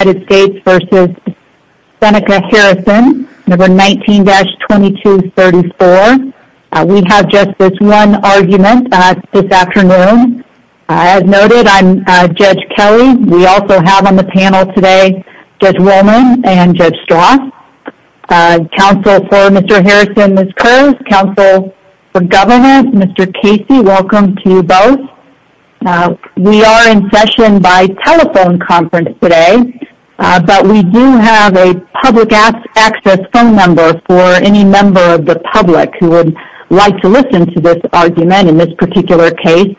19-2234. We have just this one argument this afternoon. As noted, I'm Judge Kelly. We also have on the panel today Judge Wollman and Judge Strauss. Counsel for Mr. Harrison, Ms. Curls. Counsel for Governor, Mr. Casey. Welcome to both. We are in session by telephone conference today, but we do have a public access phone number for any member of the public who would like to listen to this argument in this particular case,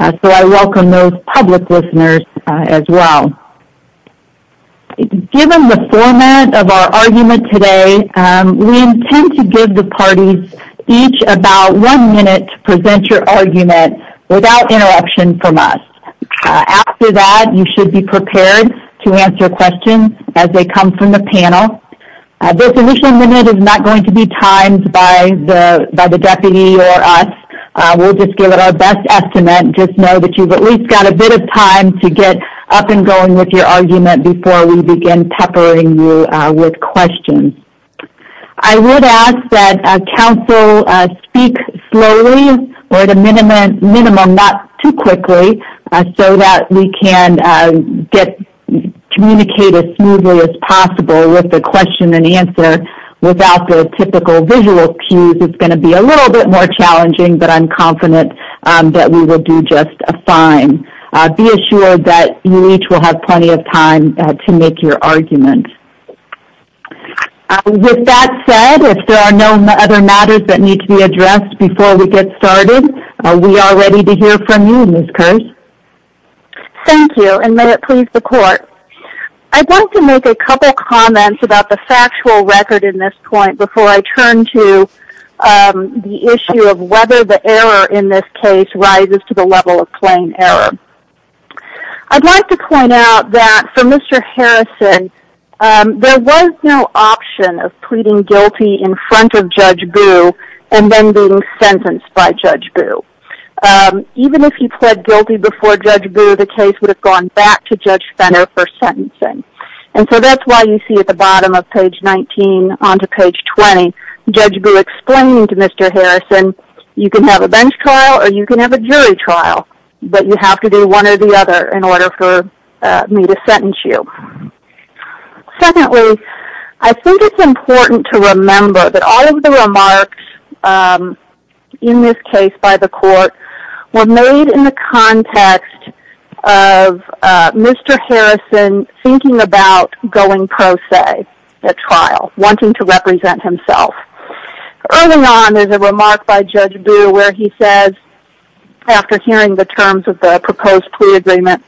so I welcome those public listeners as well. Given the format of our argument today, we intend to give the parties each about one minute to present your argument without interruption from us. After that, you should be prepared to answer questions as they come from the panel. This initial minute is not going to be timed by the deputy or us. We'll just give it our best estimate. Just know that you've at least got a bit of time to get up and going with your argument before we begin peppering you with questions. I would ask that counsel speak slowly or at a slower pace and communicate as smoothly as possible with the question and answer without the typical visual cues. It's going to be a little bit more challenging, but I'm confident that we will do just fine. Be assured that you each will have plenty of time to make your argument. With that said, if there are no other matters that need to be addressed before we get started, we are ready to hear from you, Ms. Kersh. Thank you, and may it please the court. I'd like to make a couple comments about the factual record in this point before I turn to the issue of whether the error in this case rises to the level of plain error. I'd like to point out that for Mr. Harrison, there was no option of pleading guilty in front of Judge Boo and then being sentenced by Judge Boo. Even if he pled guilty before Judge Boo, the case would have gone back to Judge Fenner for sentencing. And so that's why you see at the bottom of page 19 on to page 20, Judge Boo explaining to Mr. Harrison, you can have a bench trial or you can have a jury trial, but you have to do one or the other in order for me to sentence you. Secondly, I think it's important to remember that all of the remarks in this case by the court were made in the context of Mr. Harrison thinking about going pro se at trial, wanting to represent himself. Early on, there's a remark by Judge Boo where he says, after hearing the terms of the proposed plea agreement,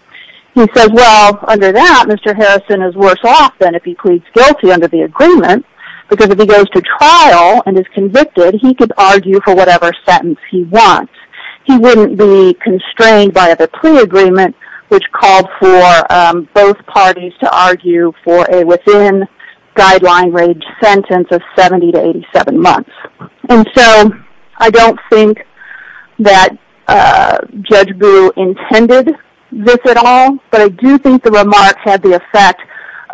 he says, well, under that, Mr. Harrison is worse off than if he pleads guilty under the agreement, because if he goes to trial and is convicted, he could argue for whatever sentence he wants. He wouldn't be constrained by the plea agreement, which called for both parties to argue for a within guideline range And so I don't think that Judge Boo intended this at all, but I do think the remarks had the effect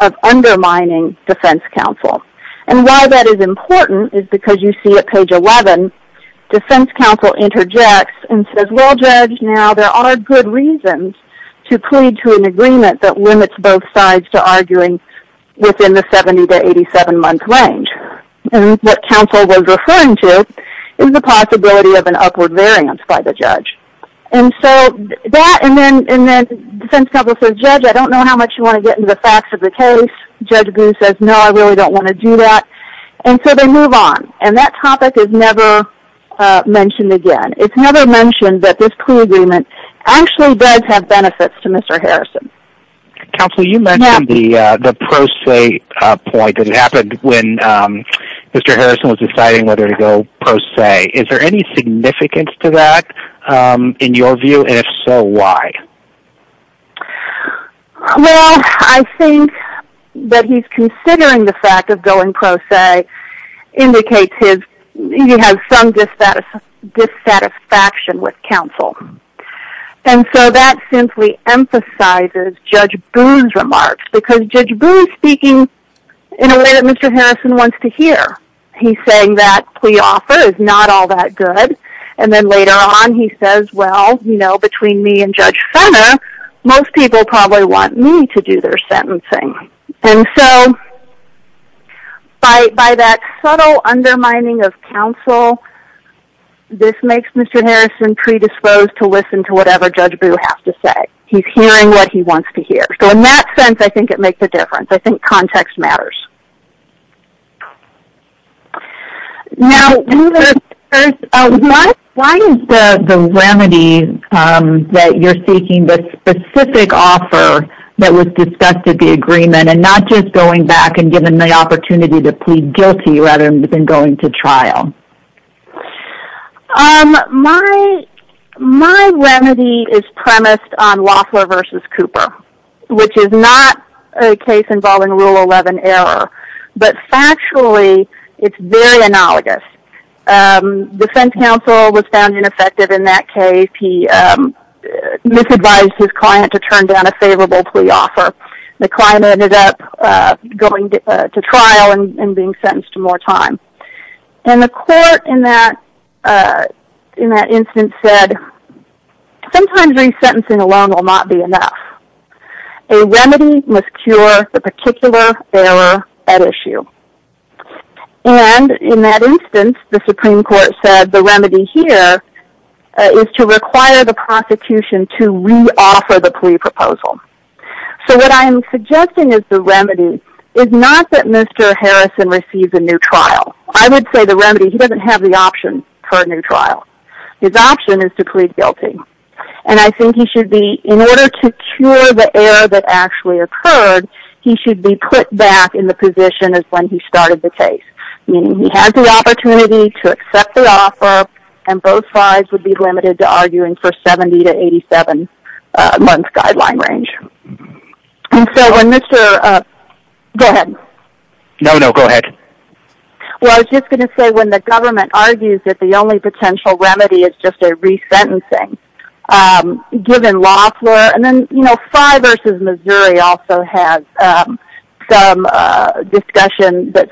of undermining defense counsel. And why that is important is because you see at page 11, defense counsel interjects and says, well, Judge, now there are good reasons to plead to an agreement that limits both sides to arguing within the 70 to 87 month range. And what counsel was referring to is the possibility of an upward variance by the judge. And so that, and then defense counsel says, Judge, I don't know how much you want to get into the facts of the case. Judge Boo says, no, I really don't want to do that. And so they move on. And that topic is never mentioned again. It's never mentioned that this plea agreement actually does have benefits to Mr. Harrison. Counsel, you mentioned the pro se point that happened when Mr. Harrison was deciding whether to go pro se. Is there any significance to that in your view? And if so, why? Well, I think that he's considering the fact of going pro se indicates he has some dissatisfaction with counsel. And so that simply emphasizes Judge Boo's remarks. Because Judge Boo's speaking in a way that Mr. Harrison wants to hear. He's saying that plea offer is not all that good. And then later on he says, well, you know, between me and Judge Fenner, most people probably want me to do their sentencing. And so by that subtle undermining of counsel, this makes Mr. Harrison predisposed to listen to whatever Judge Boo has to say. He's hearing what he wants to hear. So in that sense, I think it makes a difference. I think context matters. Now, why is the remedy that you're seeking, the specific offer that was discussed at the agreement, and not just going back and giving the opportunity to plead guilty rather than going to trial? My remedy is premised on Loeffler v. Cooper, which is not a case involving Rule 11 error. But factually, it's very analogous. The defense counsel was found ineffective in that case. He misadvised his client to turn down a favorable plea offer. The client ended up going to trial and being sentenced to more time. And the court in that instance said, sometimes resentencing alone will not be enough. A remedy must cure the particular error at issue. And in that instance, the Supreme Court said the remedy here is to require the prosecution to re-offer the plea proposal. So what I'm suggesting is the remedy is not that Mr. Harrison receives a new trial. I would say the remedy, he doesn't have the option for a new trial. His option is to plead guilty. And I think he should be, in order to cure the error that actually occurred, he should be put back in the position as when he started the case. Meaning he has the opportunity to accept the offer and both sides would be limited to arguing for 70-87 month guideline range. I was just going to say, when the government argues that the only potential remedy is just a resentencing, given Loeffler, and then Fry v. Missouri also has some discussion that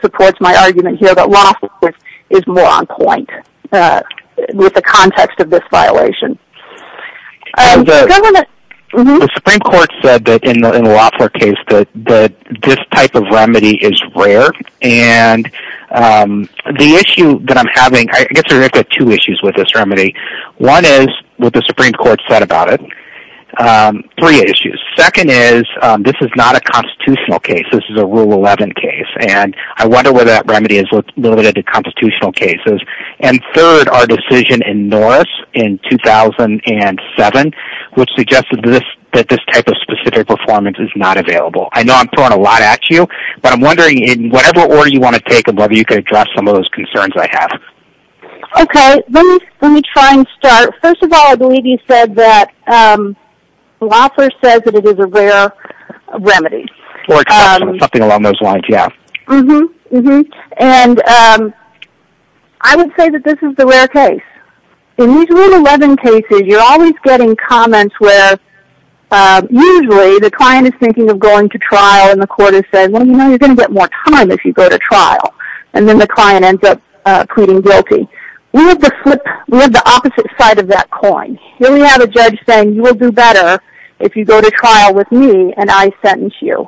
is more on point with the context of this violation. The Supreme Court said that in the Loeffler case that this type of remedy is rare. And the issue that I'm having, I guess there are two issues with this remedy. One is what the Supreme Court said about it. Three issues. Second is, this is not a constitutional case. This is a Rule 11 case. And I wonder whether that remedy is limited to constitutional cases. And third, our decision in Norris in 2007, which suggested that this type of specific performance is not available. I know I'm throwing a lot at you, but I'm wondering in whatever order you want to take it, whether you can address some of those concerns I have. Okay. Let me try and start. First of all, I believe you said that Loeffler says that it is a rare remedy. Something along those lines, yeah. And I would say that this is the rare case. In these Rule 11 cases, you're always getting comments where usually the client is thinking of going to trial and the court has said, well, you know, you're going to get more time if you go to trial. And then the client ends up pleading guilty. We have the opposite side of that coin. Here we have a judge saying you will do better if you go to trial with me and I sentence you.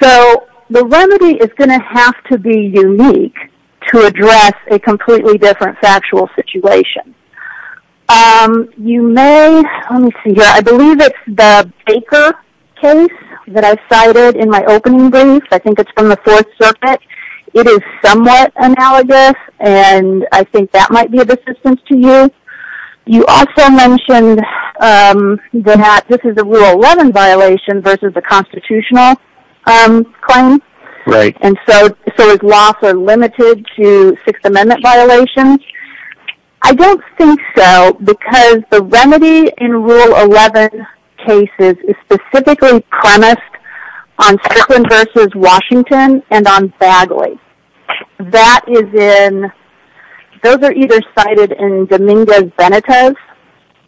So the remedy is going to have to be unique to address a completely different factual situation. You may, let me see here, I believe it's the Baker case that I cited in my opening brief. I think it's from the Fourth Circuit. It is somewhat analogous. And I think that this is a Rule 11 violation versus the constitutional claim. Right. And so is Loeffler limited to Sixth Amendment violations? I don't think so because the remedy in Rule 11 cases is specifically premised on Strickland versus Washington and on Bagley. That is in, those are either cited in Dominguez-Benitez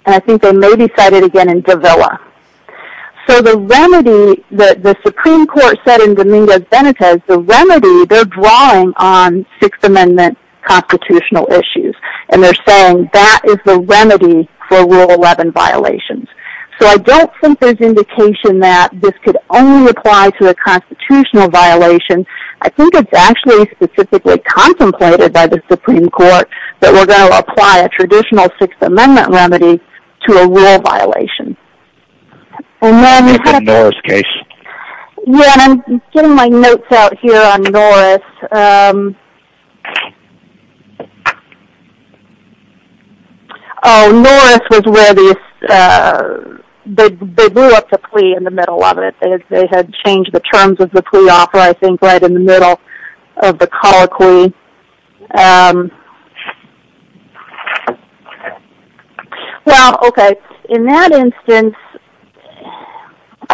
and I think they may be cited again in Davila. So the remedy that the Supreme Court said in Dominguez-Benitez, the remedy, they're drawing on Sixth Amendment constitutional issues. And they're saying that is the remedy for Rule 11 violations. So I don't think there's indication that this could only apply to a constitutional violation. I think it's actually specifically contemplated by the Supreme Court that we're going to apply a traditional Sixth Amendment remedy to a rule violation. In the Norris case? Yeah, and I'm getting my notes out here on Norris. Oh, Norris was where they blew up the plea in the middle of it. They had changed the terms of the plea offer, I think, right in the middle of the colloquy. Well, okay. In that instance,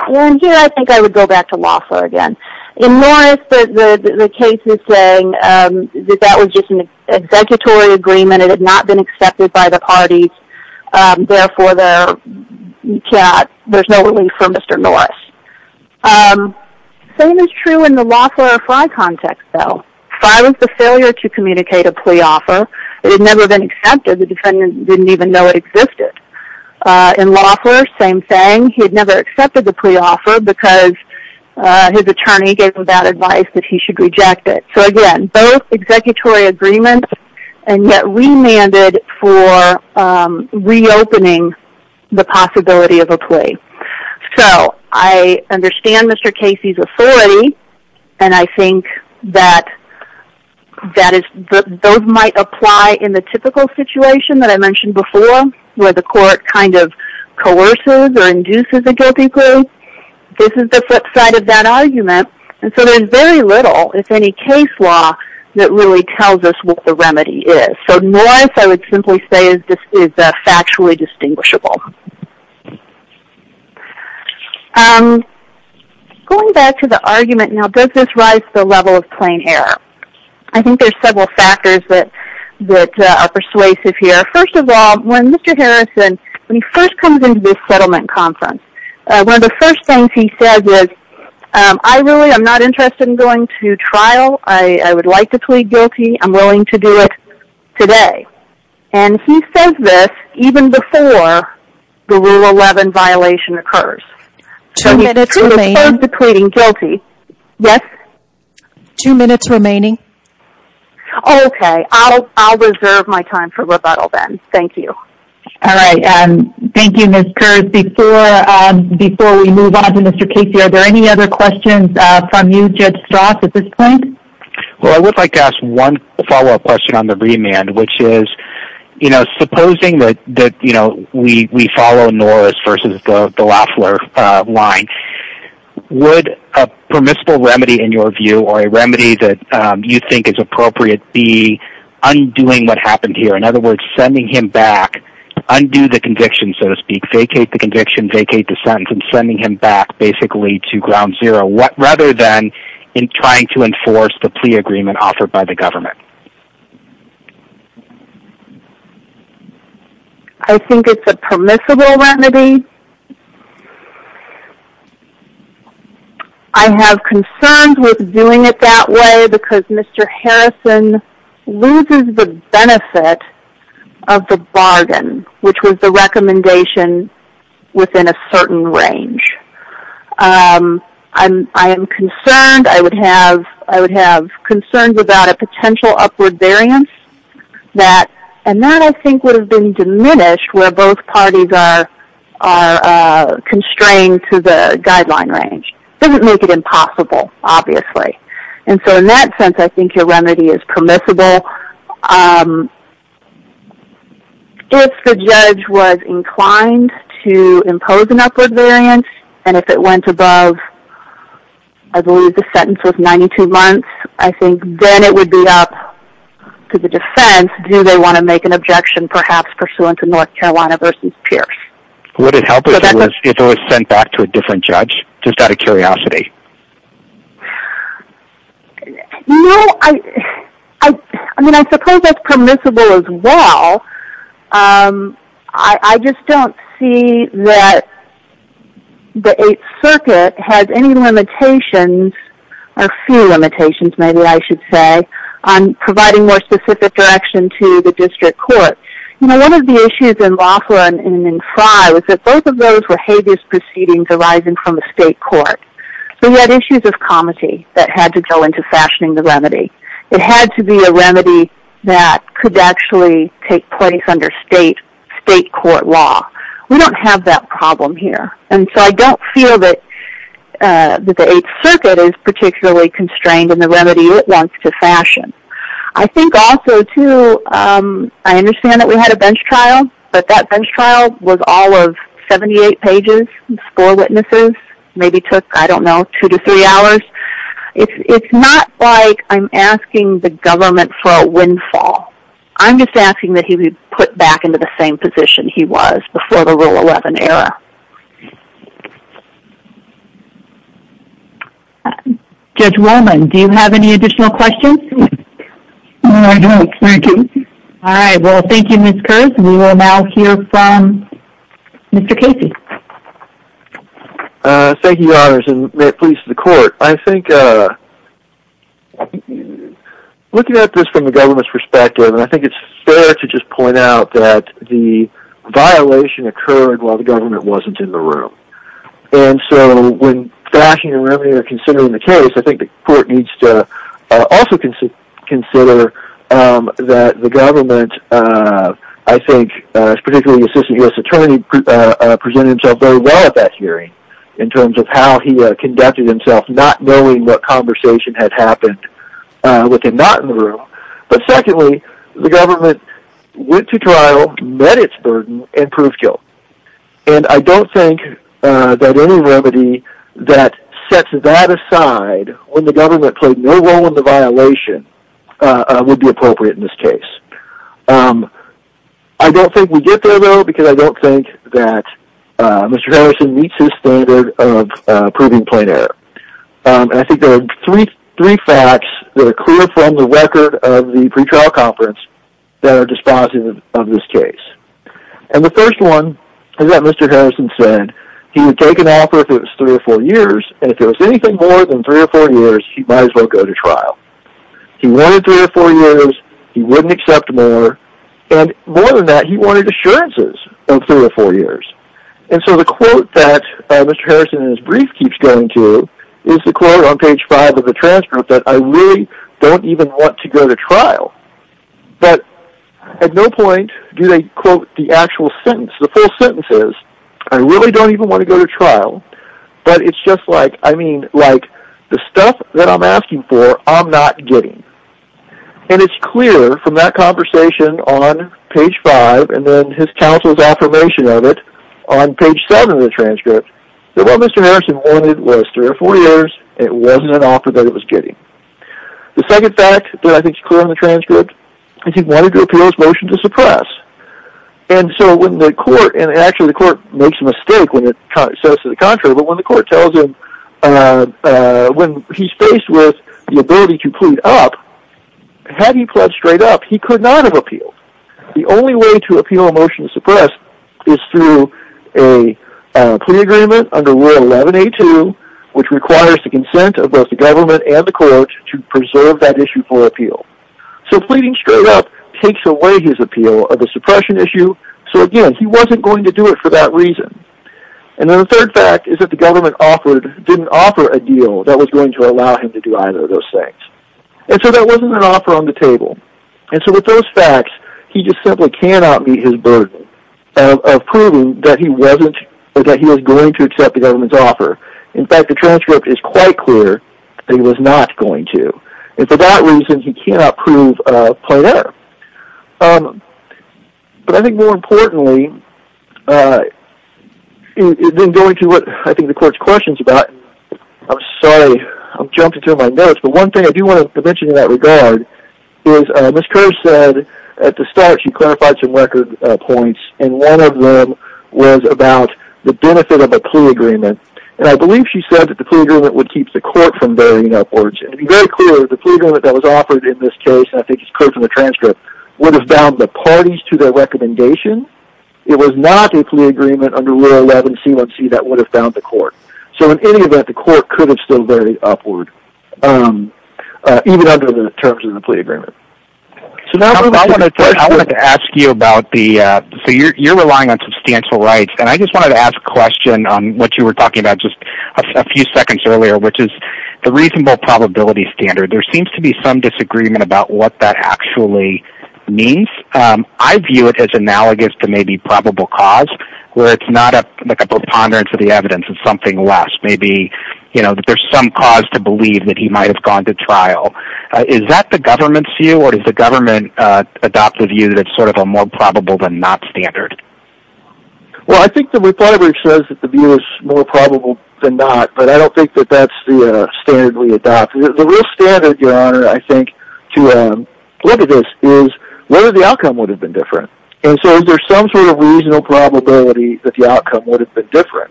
and here I think I would go back to Loeffler again. In Norris, the case is saying that that was just an executory agreement. It had not been accepted by the parties. Therefore, there's no relief for Mr. Norris. Same is true in the Loeffler or Frey context, though. Frey was the failure to communicate a plea offer. It had never been accepted. The defendant didn't even know it existed. In Loeffler, same thing. He had never accepted the plea offer because his attorney gave him that advice that he should reject it. So again, both executory agreements, and yet remanded for reopening the possibility of a plea. So, I understand Mr. Casey's authority, and I think that those might apply in the typical situation that I mentioned before, where the court kind of coerces or induces a guilty group. This is the flip side of that argument. And so, there's very little, if any, case law that really tells us what the remedy is. So, Norris, I would simply say, is factually distinguishable. Going back to the argument, now, does this rise to the level of plain error? I think there's several factors that are persuasive here. First of all, when Mr. Harrison, when he first comes into this settlement conference, one of the first things he says is, I really am not interested in going to trial. I would like to plead guilty. I'm willing to do it today. And he says this even before the Rule 11 violation occurs. Two minutes remaining. So, he prefers to plead guilty. Yes? Two minutes remaining. Okay. I'll reserve my time for rebuttal, then. Thank you. All right. Thank you, Ms. Kurz. Before we move on to Mr. Casey, are there any other questions from you, Judge Strauss, at this point? Well, I would like to ask one follow-up question on the remand, which is, you know, supposing that, you know, we follow Norris versus the Loeffler line, would a permissible remedy in your view, or a remedy that you think is appropriate, be undoing what happened here? In other words, sending him back, undo the conviction, so to speak, vacate the conviction, vacate the sentence, and sending him back, basically, to ground zero, rather than in trying to enforce the plea agreement offered by the government? I think it's a permissible remedy. I have concerns with doing it that way, because Mr. Harrison loses the benefit of the bargain, which was the recommendation within a certain upward variance. And that, I think, would have been diminished where both parties are constrained to the guideline range. Doesn't make it impossible, obviously. And so, in that sense, I think your remedy is permissible. If the judge was inclined to impose an upward variance, and if it went above, I believe the sentence was 92 months, I think then it would be up to the defense, do they want to make an objection, perhaps pursuant to North Carolina versus Pierce? Would it help if it was sent back to a different judge, just out of curiosity? No, I mean, I suppose that's permissible as well. I just don't see that the Eighth Circuit, on providing more specific direction to the district court, you know, one of the issues in Lofler and in Frye was that both of those were habeas proceedings arising from a state court. So you had issues of comity that had to go into fashioning the remedy. It had to be a remedy that could actually take place under state court law. We don't have that problem here. And so, I don't feel that the Eighth Circuit is particularly constrained in the remedy it wants to fashion. I think also, too, I understand that we had a bench trial, but that bench trial was all of 78 pages, score witnesses, maybe took, I don't know, two to three hours. It's not like I'm asking the government for a windfall. I'm just asking that he be put back into the same position he was before the Rule 11 era. Judge Wolman, do you have any additional questions? No, I don't. Thank you. All right. Well, thank you, Ms. Kurz. We will now hear from Mr. Casey. Thank you, Your Honors, and may it please the court. I think looking at this from the government's perspective, and I think it's fair to just point out that the violation occurred while the government wasn't in the room. And so, when fashioning a remedy or considering the case, I think the court needs to also consider that the government, I think, particularly the Assistant U.S. Attorney, presented himself very well at that hearing in terms of how he conducted himself not knowing what conversation had happened with him not in the room. But secondly, the government went to trial, met its burden, and proved guilt. And I don't think that any remedy that sets that aside when the government played no role in the violation would be appropriate in this case. I don't think we get there, though, because I don't think that Mr. Harrison meets his standard of proving plain error. And I think there are three facts that are clear from the record of the pretrial conference that are dispositive of this case. And the first one is that Mr. Harrison said he would take an offer if it was three or four years, and if it was anything more than three or four years, he might as well go to trial. He wanted three or four years, he wouldn't accept more, and more than that, he wanted assurances of three or four years. And so the quote that Mr. Harrison in his brief keeps going to is the quote on page five of the transcript that I really don't even want to go to trial. But at no point do they quote the actual sentence. The full sentence is, I really don't even want to go to trial, but it's just like, I mean, like, the stuff that I'm asking for, I'm not getting. And it's clear from that conversation on page five, and then his counsel's affirmation of it on page seven of the transcript, that what Mr. Harrison wanted was three or four years, and it wasn't an offer that he was getting. The second fact that I think is clear on the transcript is he wanted to appeal his motion to suppress. And so when the court, and actually the court makes a mistake when it says to the contrary, but when the court tells him when he's faced with the ability to plead up, had he pledged straight up, he could not have appealed. The only way to appeal a motion to suppress is through a plea agreement under Rule 11A2, which requires the consent of both the government and the court to preserve that issue for appeal. So pleading straight up takes away his appeal of the suppression issue, so again, he wasn't going to do it for that reason. And then the third fact is that the government offered, didn't offer a deal that was going to allow him to do either of those things. And so that wasn't an offer on the table. And so with those facts, he just simply cannot meet his burden of proving that he wasn't, or that he was going to accept the government's offer. In fact, the transcript is quite clear that he was not going to. And for that reason, he cannot prove plain error. But I think more importantly, in going to what I think the court's question's about, I'm sorry, I've jumped into my notes, but one thing I do want to mention in that regard is Ms. Kerr said at the start, she clarified some record points, and one of them was about the benefit of a plea agreement. And I believe she said that the plea agreement would keep the court from varying upwards. And to be very clear, the plea agreement that was offered in this case, and I think it's clear from the transcript, would have bound the parties to their recommendation. It was not a plea agreement under Rule 11 C1C that would have bound the court. So in any event, the court could have still varied upward, even under the terms of the plea agreement. I wanted to ask you about the, so you're relying on substantial rights, and I just wanted to ask a question on what you were talking about just a few seconds earlier, which is the reasonable probability standard. There seems to be some disagreement about what that actually means. I view it as analogous to maybe probable cause, where it's not a preponderance of the evidence, it's something less. Maybe there's some cause to believe that he might have gone to trial. Is that the government's view, or does the government adopt the view that it's sort of a more probable than not standard? Well, I think the report says that the view is more probable than not, but I don't think that that's the standard we adopt. The real standard, Your Honor, I think, to look at this is whether the outcome would have been different. And so is there some sort of reasonable probability that the outcome would have been different?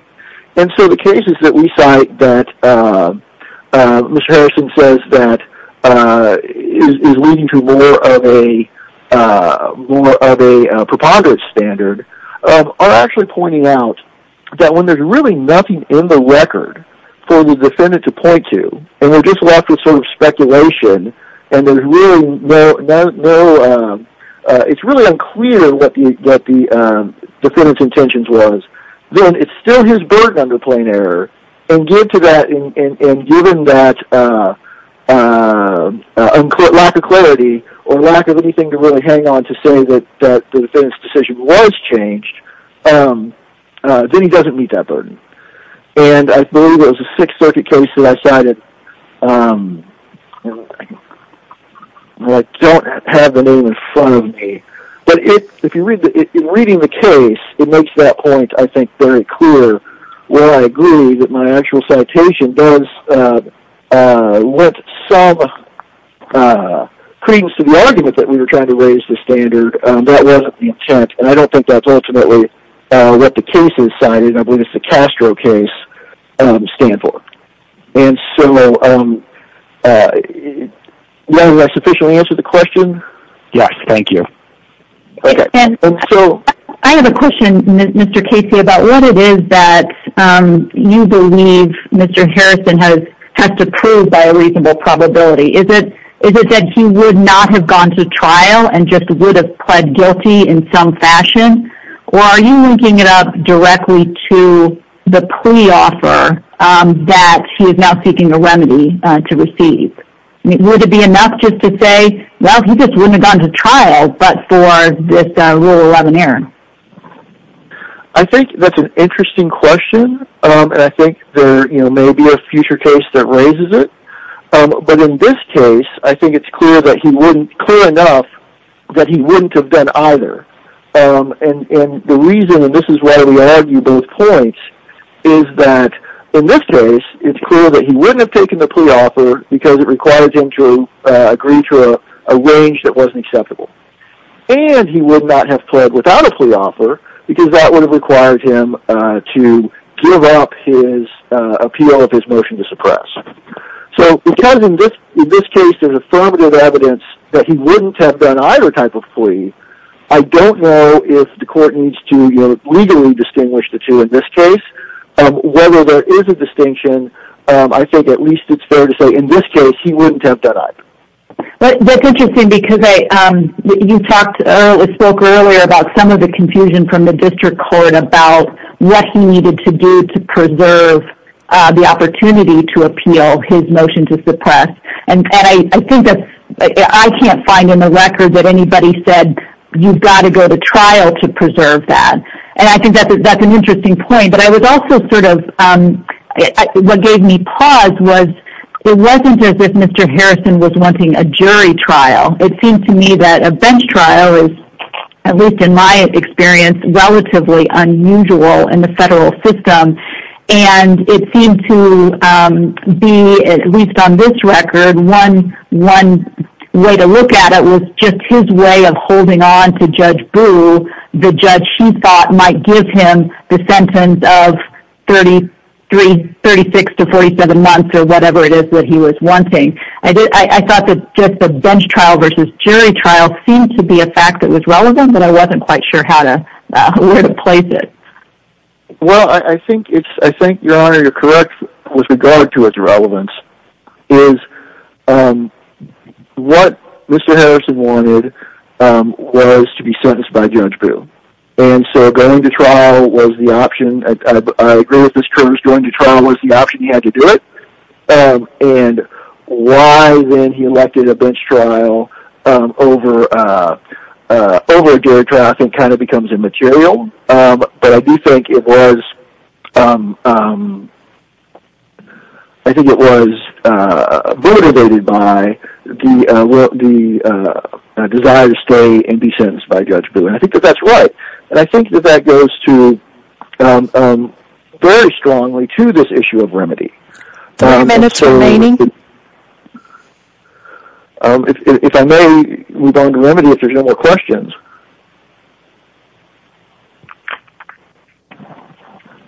And so the cases that we cite that Mr. Harrison says that is leading to more of a preponderance standard are actually pointing out that when there's really nothing in the record for the defendant to point to, and it's really unclear what the defendant's intentions was, then it's still his burden under plain error. And given that lack of clarity, or lack of anything to really hang on to say that the defendant's decision was changed, then he doesn't meet that burden. And I believe it was a Sixth Circuit case that I cited. I don't have the name in front of me. But in reading the case, it makes that point, I think, very clear where I agree that my actual citation does lend some credence to the argument that we were trying to raise the standard. That wasn't the intent, and I don't think that's ultimately what the case that I cited, and I believe it's the Castro case, stand for. And so, did I sufficiently answer the question? Yes, thank you. I have a question, Mr. Casey, about what it is that you believe Mr. Harrison has to prove by a reasonable probability. Is it that he would not have gone to trial and just would have pled guilty in some fashion? Or are you looking it up directly to the pre-offer that he is now seeking a remedy to receive? Would it be enough just to say, well, he just wouldn't have gone to trial but for this Rule 11 error? I think that's an interesting question, and I think there may be a future case that raises it. But in this case, I think it's clear enough that he wouldn't have done either. And the reason why we argue both points is that, in this case, it's clear that he wouldn't have taken the pre-offer because it required him to agree to a range that wasn't acceptable. And he would not have pled without a pre-offer because that would have required him to give up his appeal of his motion to suppress. So, because in this case there's affirmative evidence that he wouldn't have done either type of plea, I don't know if the court needs to legally distinguish the two in this case. Whether there is a distinction, I think at least it's fair to say in this case he wouldn't have done either. That's interesting because you spoke earlier about some of the confusion from the district court about what he needed to do to preserve the opportunity to appeal his motion to suppress. And I think that I can't find in the record that anybody said, you've got to go to trial to preserve that. And I think that's an interesting point. But I was also sort of, what gave me pause was it wasn't as if Mr. Harrison was wanting a jury trial. It seemed to me that a bench trial is, at least in my experience, relatively unusual in the federal system. And it seemed to be, at least on this record, one way to look at it was just his way of saying that the judge, he thought, might give him the sentence of 36 to 47 months or whatever it is that he was wanting. I thought that just the bench trial versus jury trial seemed to be a fact that was relevant, but I wasn't quite sure how to, where to place it. Well, I think it's, I think, Your Honor, you're correct with regard to its relevance. What Mr. Harrison wanted was to be sentenced by Judge Brewer. And so going to trial was the option. I agree with Mr. Curtis, going to trial was the option. He had to do it. And why then he elected a bench trial over jury trial I think kind of becomes immaterial. But I do think it was, I think it was motivated by the desire to stay and be sentenced by Judge Brewer. And I think that that's right. And I think that that goes to, very strongly to this issue of remedy. Three minutes remaining. If I may, we're going to remedy if there's no more questions.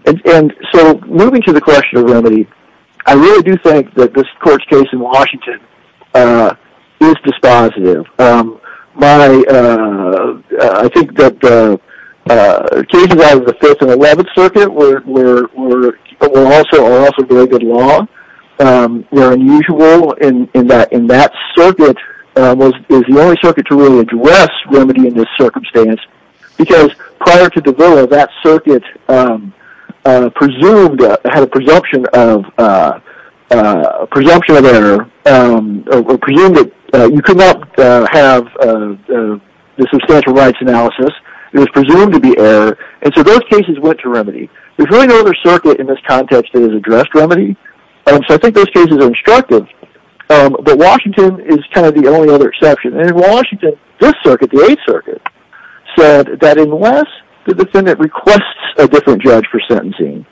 And so moving to the question of remedy, I really do think that this court's case in Washington is dispositive. My, I think that cases out of the 5th and 11th Circuit were also very good law, were unusual, and that circuit is the only circuit to really address remedy in this circumstance. Because prior to DeVille, that circuit presumed, had a presumption of error, presumed that you could not have the substantial rights analysis. It was presumed to be error. And so those cases went to remedy. There's really no other circuit in this context that has addressed remedy. And so I think those cases are instructive. But Washington is kind of the only other exception. And in Washington, this circuit, the 8th Circuit, said that unless the defendant requests a different judge for sentencing,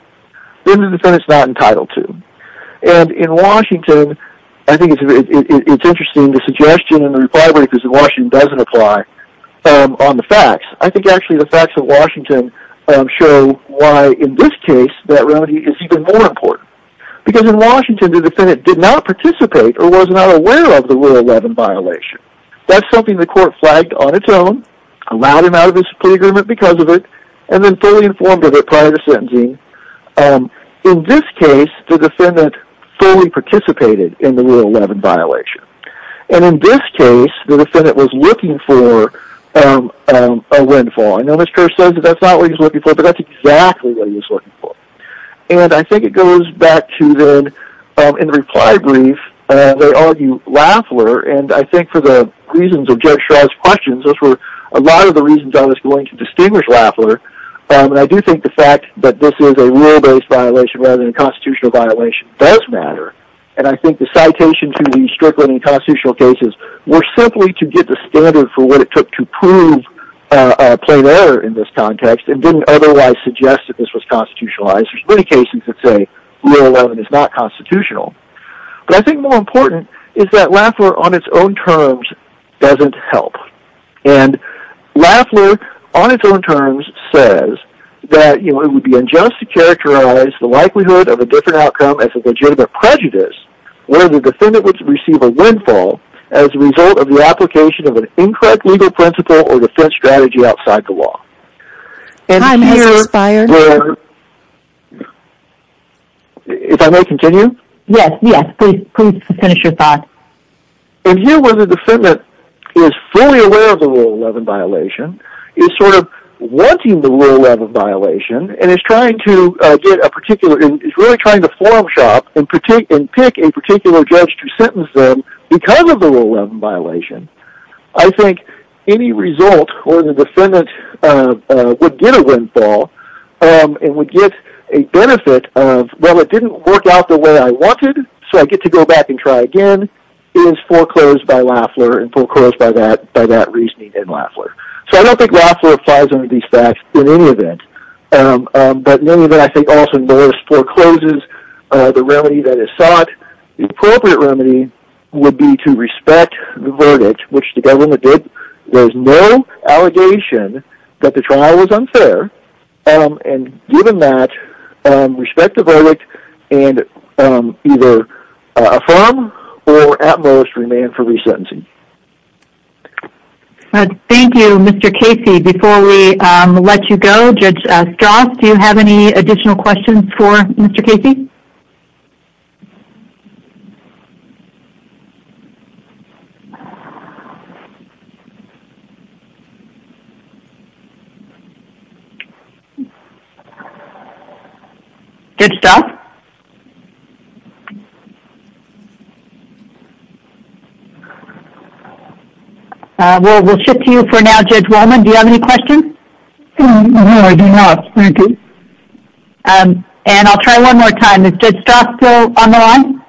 then the defendant is not entitled to. And in Washington, I think it's interesting the suggestion and the reply doesn't apply on the facts. I think actually the facts of Washington show why in this case that remedy is even more important. Because in Washington, the defendant did not participate or was not aware of the Rule 11 violation. That's something the court flagged on its own, allowed him out of his plea agreement because of it, and then fully informed of it prior to sentencing. In this case, the defendant fully participated in the Rule 11 violation. And in this case, the defendant was looking for a windfall. I know Mr. Kerr says that that's not what he was looking for, but that's exactly what he was looking for. And I think it goes back to then, in the reply brief, they argue Lafler, and I think for the reasons of Judge Schreier's questions, those were a lot of the reasons I was going to distinguish Lafler. And I do think the fact that this is a rule-based violation rather than a constitutional violation does matter. And I think the citation to the Strickland in constitutional cases were simply to get the standard for what it took to prove a plain error in this context and didn't otherwise suggest that this was constitutionalized. There's many cases that say Rule 11 is not constitutional. But I think more important is that Lafler, on its own terms, doesn't help. And Lafler, on its own terms, says that it would be unjust to characterize the likelihood of a different outcome as a legitimate prejudice where the defendant would receive a windfall as a result of the application of an incorrect legal principle or defense strategy outside the law. Time has expired. If I may continue? Yes, yes. Please finish your thought. And here, where the defendant is fully aware of the Rule 11 violation, is sort of wanting the Rule 11 violation, and is really trying to forum shop and pick a particular judge to sentence them because of the Rule 11 violation. I think any result where the defendant would get a windfall and would get a benefit of, well, it didn't work out the way I wanted, so I get to go back and try again, is foreclosed by Lafler and foreclosed by that reasoning in Lafler. So I don't think Lafler applies any of these facts in any event. But in any event, I think also Morris forecloses the remedy that is sought. The appropriate remedy would be to respect the verdict, which the government did. There's no allegation that the trial was unfair. And given that, respect the verdict and either affirm or at most remain for resentencing. Thank you, Mr. Casey. Before we let you go, Judge Strauss, do you have any additional questions for Mr. Casey? Judge Strauss? We'll shift to you for now, Judge Wallman. Do you have any questions? No, I do not. Thank you. And I'll try one more time. Is Judge Strauss still on the line?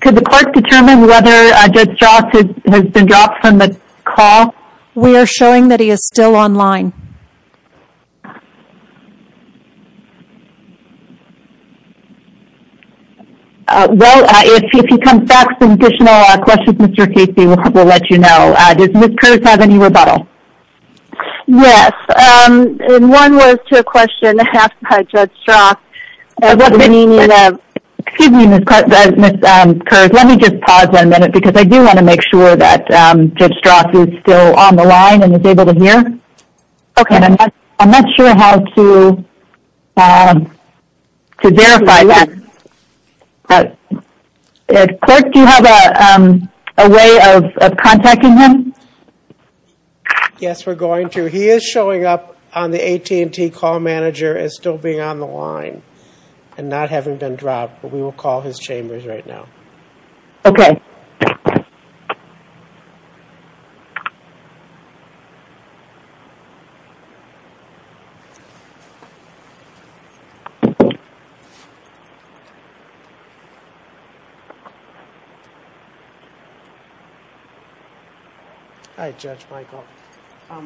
Could the court determine whether Judge Strauss has been dropped from the call? We are showing that he is still on line. Well, if he comes back with additional questions, Mr. Casey will let you know. Does Ms. Kurz have any rebuttal? Yes. And one was to a question asked by Judge Strauss. Excuse me, Ms. Kurz. Let me just pause one minute because I do want to make sure that Judge Strauss is still on the line and is able to hear. Okay. And I'm not sure how to verify that. Clerk, do you have a way of contacting him? Yes, we're going to. He is showing up on the AT&T call manager as still being on the line and not having been dropped, but we will call his chambers right now. Okay. Thank you. Hi, Judge Michael. What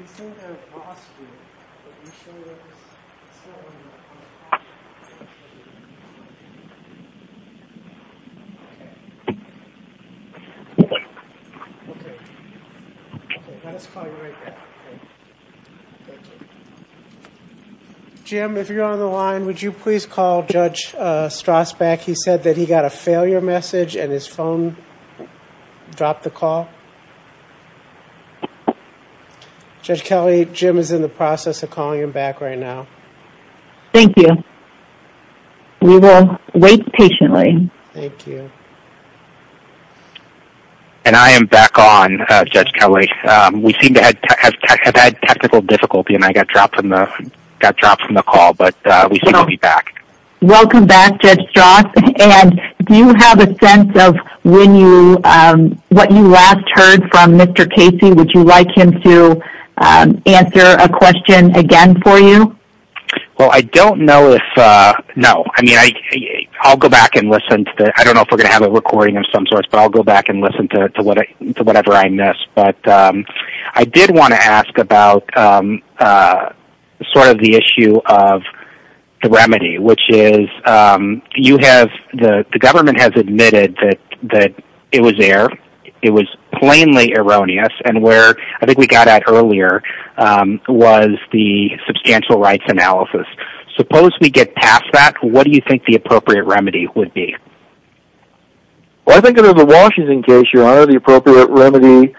we said last week, that you showed up as still on the call. Jim, if you're on the line, would you please call Judge Strauss back? He said that he got a failure message and his phone dropped the call. Judge Kelly, Jim is in the process of calling him back right now. Thank you. We will wait patiently. Thank you. And I am back on, Judge Kelly. We seem to have had technical difficulty and I got dropped from the call, but we seem to be back. Welcome back, Judge Strauss. And do you have a sense of what you last heard from Mr. Casey? Would you like him to answer a question again for you? Well, I don't know if, no. I mean, I'll go back and listen to, I don't know if we're going to have a recording of some sort, but I'll go back and listen to whatever I missed. But I did want to ask about sort of the issue of the remedy, which is you have, the government has admitted that it was there, it was plainly erroneous, and where I think we got at earlier was the substantial rights analysis. Suppose we get past that, what do you think the appropriate remedy would be? Well, I think under the Washington case, your Honor, the appropriate remedy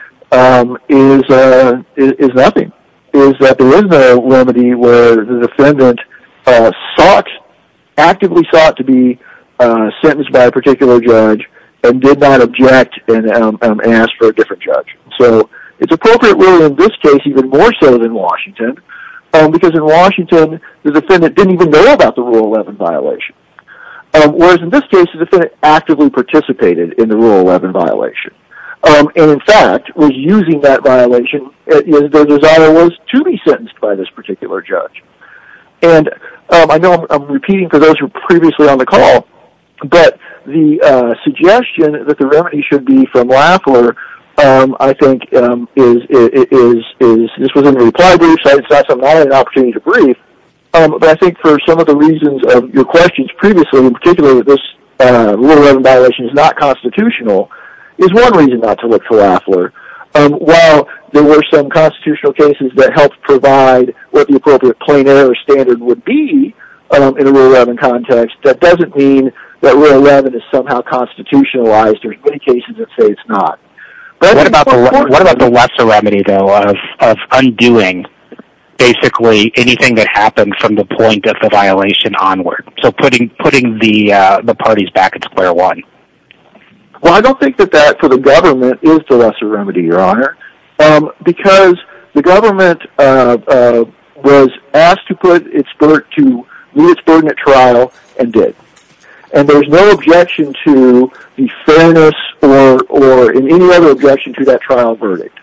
is nothing. Is that there is no remedy where the defendant sought, actively sought to be sentenced by a particular judge and did not object and ask for a different judge. So it's appropriate really in this case even more so than Washington, because in Washington the defendant didn't even know about the Rule 11 violation. Whereas in this case the defendant actively participated in the Rule 11 violation. And in fact, was using that violation, their desire was to be sentenced by this particular judge. And I know I'm repeating for those who were previously on the call, but the suggestion that the remedy should be from Lafleur, I think, is, this was in the reply brief, so I decided that's not an opportunity to brief, but I think for some of the reasons of your questions previously, particularly that this Rule 11 violation is not constitutional, is one reason not to look to Lafleur. While there were some constitutional cases that helped provide what the appropriate plain error standard would be in a Rule 11 context, that doesn't mean that Rule 11 is somehow constitutionalized. There's many cases that say it's not. What about the lesser remedy, though, of undoing basically anything that happened from the putting the parties back in square one? Well, I don't think that that, for the government, is the lesser remedy, Your Honor. Because the government was asked to meet its burden at trial, and did. And there's no objection to the fairness or any other objection to that trial verdict.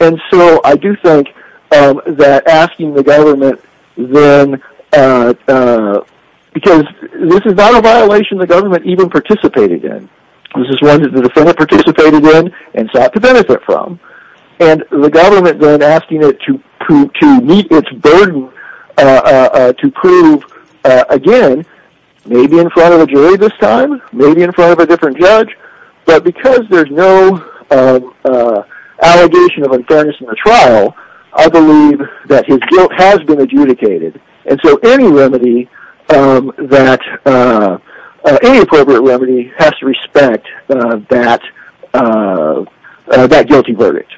And so I do think that asking the government then, because this is not a violation the government even participated in. This is one that the defendant participated in and sought to benefit from. And the government then asking it to meet its burden, to prove, again, maybe in front of a jury this time, maybe in front of a different judge, but because there's no allegation of unfairness in the trial, I believe that his guilt has been adjudicated. And so any remedy, any appropriate remedy, has to respect that guilty verdict.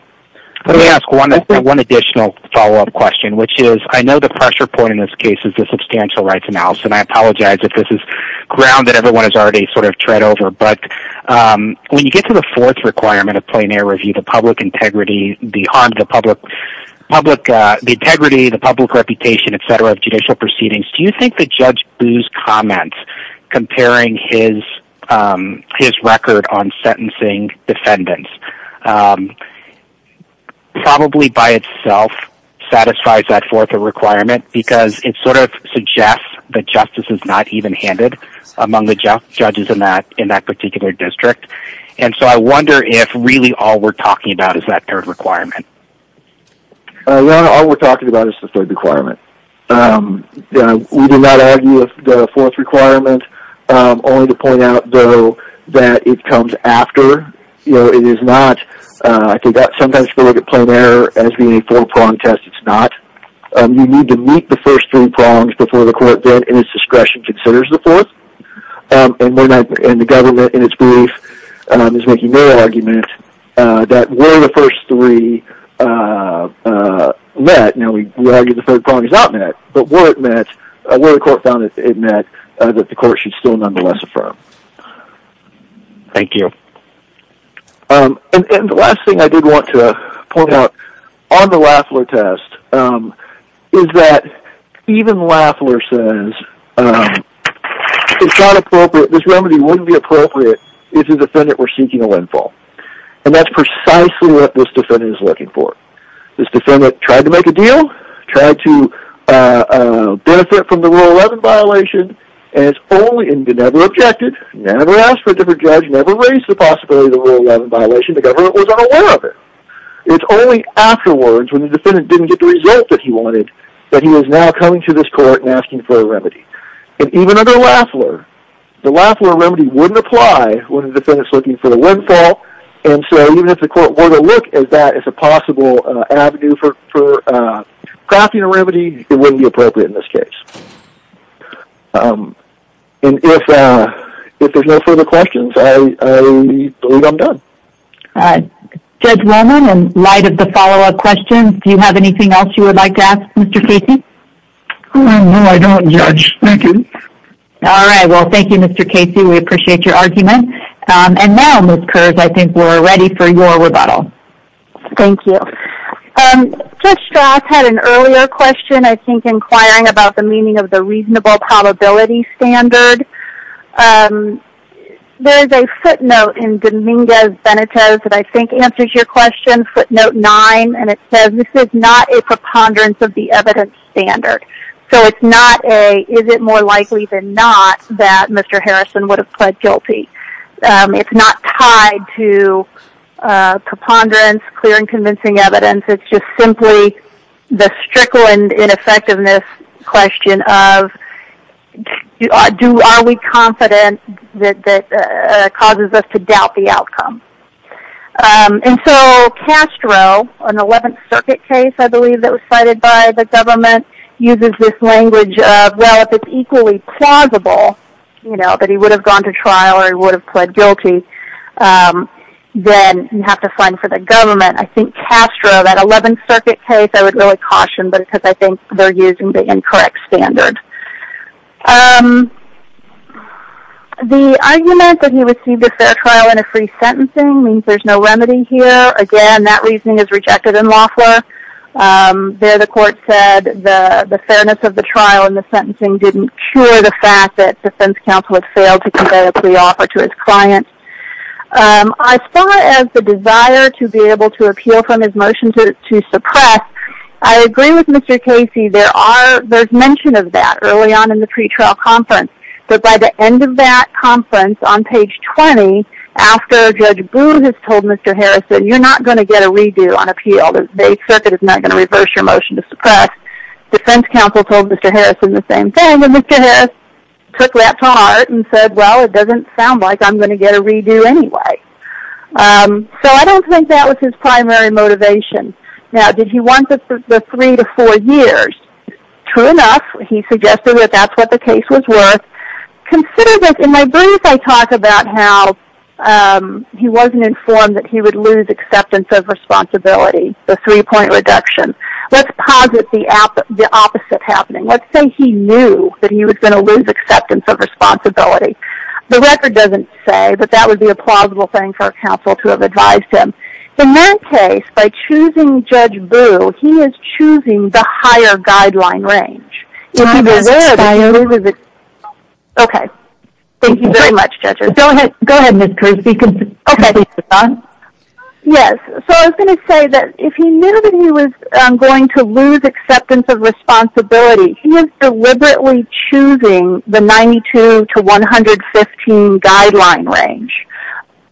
Let me ask one additional follow-up question, which is, I know the pressure point in this case is the substantial rights analysis, and I apologize if this is ground that everyone has already sort of tread over. But when you get to the fourth requirement of plain air review, the public integrity, the harm to the public, the integrity, the public reputation, et cetera, of judicial proceedings, do you think that Judge Boo's comments, comparing his record on sentencing defendants, probably by itself satisfies that fourth requirement? Because it sort of suggests that justice is not even-handed among the judges in that particular district. And so I wonder if really all we're talking about is that third requirement. No, all we're talking about is the third requirement. We do not argue with the fourth requirement, only to point out, though, that it comes after. It is not. I think that sometimes people look at plain air as being a four-prong test. It's not. You need to meet the first three prongs before the court then, in its discretion, considers the fourth. And the government, in its belief, is making no argument that were the first three met – now, we argue the third prong is not met – but were it met, were the court found it met, that the court should still nonetheless affirm. Thank you. And the last thing I did want to point out on the Lafleur test is that even Lafleur says it's not appropriate, this remedy wouldn't be appropriate if the defendant were seeking a landfall. And that's precisely what this defendant is looking for. This defendant tried to make a deal, tried to benefit from the Rule 11 violation, and never objected, never asked for a different judge, never raised the possibility of the Rule 11 violation. The government was unaware of it. It's only afterwards, when the defendant didn't get the result that he wanted, that he is now coming to this court and asking for a remedy. And even under Lafleur, the Lafleur remedy wouldn't apply when the defendant is looking for a landfall, and so even if the court were to look at that as a possible avenue for crafting a remedy, it wouldn't be appropriate in this case. And if there's no further questions, I believe I'm done. Judge Rollman, in light of the follow-up questions, do you have anything else you would like to ask, Mr. Casey? No, I don't, Judge. Thank you. All right. Well, thank you, Mr. Casey. We appreciate your argument. And now, Ms. Kurz, I think we're ready for your rebuttal. Thank you. Judge Strass had an earlier question, I think inquiring about the meaning of the reasonable probability standard. There's a footnote in Dominguez-Benitez that I think answers your question, footnote 9, and it says, this is not a preponderance of the evidence standard. So it's not a, is it more likely than not that Mr. Harrison would have pled guilty. It's not tied to preponderance, clear and convincing evidence. It's just simply the strickle and ineffectiveness question of are we confident that causes us to doubt the outcome. And so Castro, an 11th Circuit case, I believe, that was cited by the government, uses this language of, well, if it's equally plausible, you know, that he would have gone to trial or he would have pled guilty, then you have to find for the government. I think Castro, that 11th Circuit case, I would really caution because I think they're using the incorrect standard. The argument that he received a fair trial and a free sentencing means there's no remedy here. Again, that reasoning is rejected in Loeffler. There the court said the fairness of the trial and the sentencing didn't cure the fact that defense counsel had failed to convey a pre-offer to his client. As far as the desire to be able to appeal from his motion to suppress, I agree with Mr. Casey. There's mention of that early on in the pretrial conference. But by the end of that conference, on page 20, after Judge Booth has told Mr. Harrison, you're not going to get a redo on appeal. The circuit is not going to reverse your motion to suppress. Defense counsel told Mr. Harrison the same thing and Mr. Harrison took that to heart and said, well, it doesn't sound like I'm going to get a redo anyway. So I don't think that was his primary motivation. Now, did he want the three to four years? True enough, he suggested that that's what the case was worth. Consider that in my brief, I talk about how he wasn't informed that he would lose acceptance of responsibility, the three-point reduction. Let's posit the opposite happening. Let's say he knew that he was going to lose acceptance of responsibility. The record doesn't say, but that would be a plausible thing for a counsel to have advised him. In that case, by choosing Judge Booth, he is choosing the higher guideline range. Okay. Thank you very much, judges. Go ahead. Go ahead, Ms. Kruse. Okay. Yes. So I was going to say that if he knew that he was going to lose acceptance of responsibility, he is deliberately choosing the 92 to 115 guideline range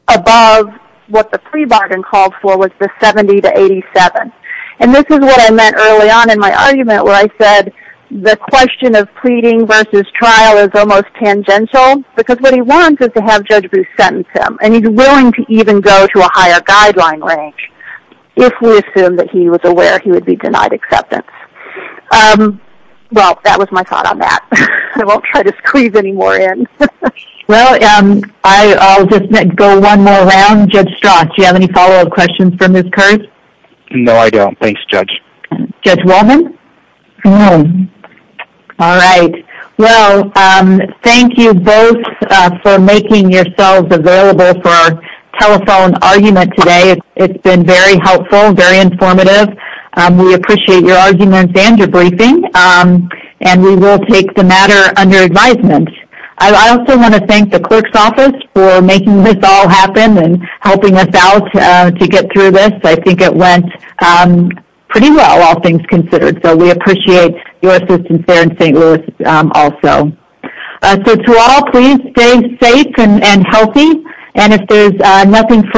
above what the pre-bargain called for was the 70 to 87. And this is what I meant early on in my argument where I said the question of pleading versus trial is almost tangential because what he wants is to have Judge Booth sentence him and he is willing to even go to a higher guideline range if we assume that he was aware he would be denied acceptance. Well, that was my thought on that. I won't try to squeeze any more in. Well, I'll just go one more round. Judge Strach, do you have any follow-up questions for Ms. Kruse? No, I don't. Thanks, Judge. Judge Wolman? No. All right. Well, thank you both for making yourselves available for our telephone argument today. It's been very helpful, very informative. We appreciate your arguments and your briefing, and we will take the matter under advisement. I also want to thank the clerk's office for making this all happen and helping us out to get through this. I think it went pretty well, all things considered. So we appreciate your assistance there in St. Louis also. So to all, please stay safe and healthy, and if there's nothing further,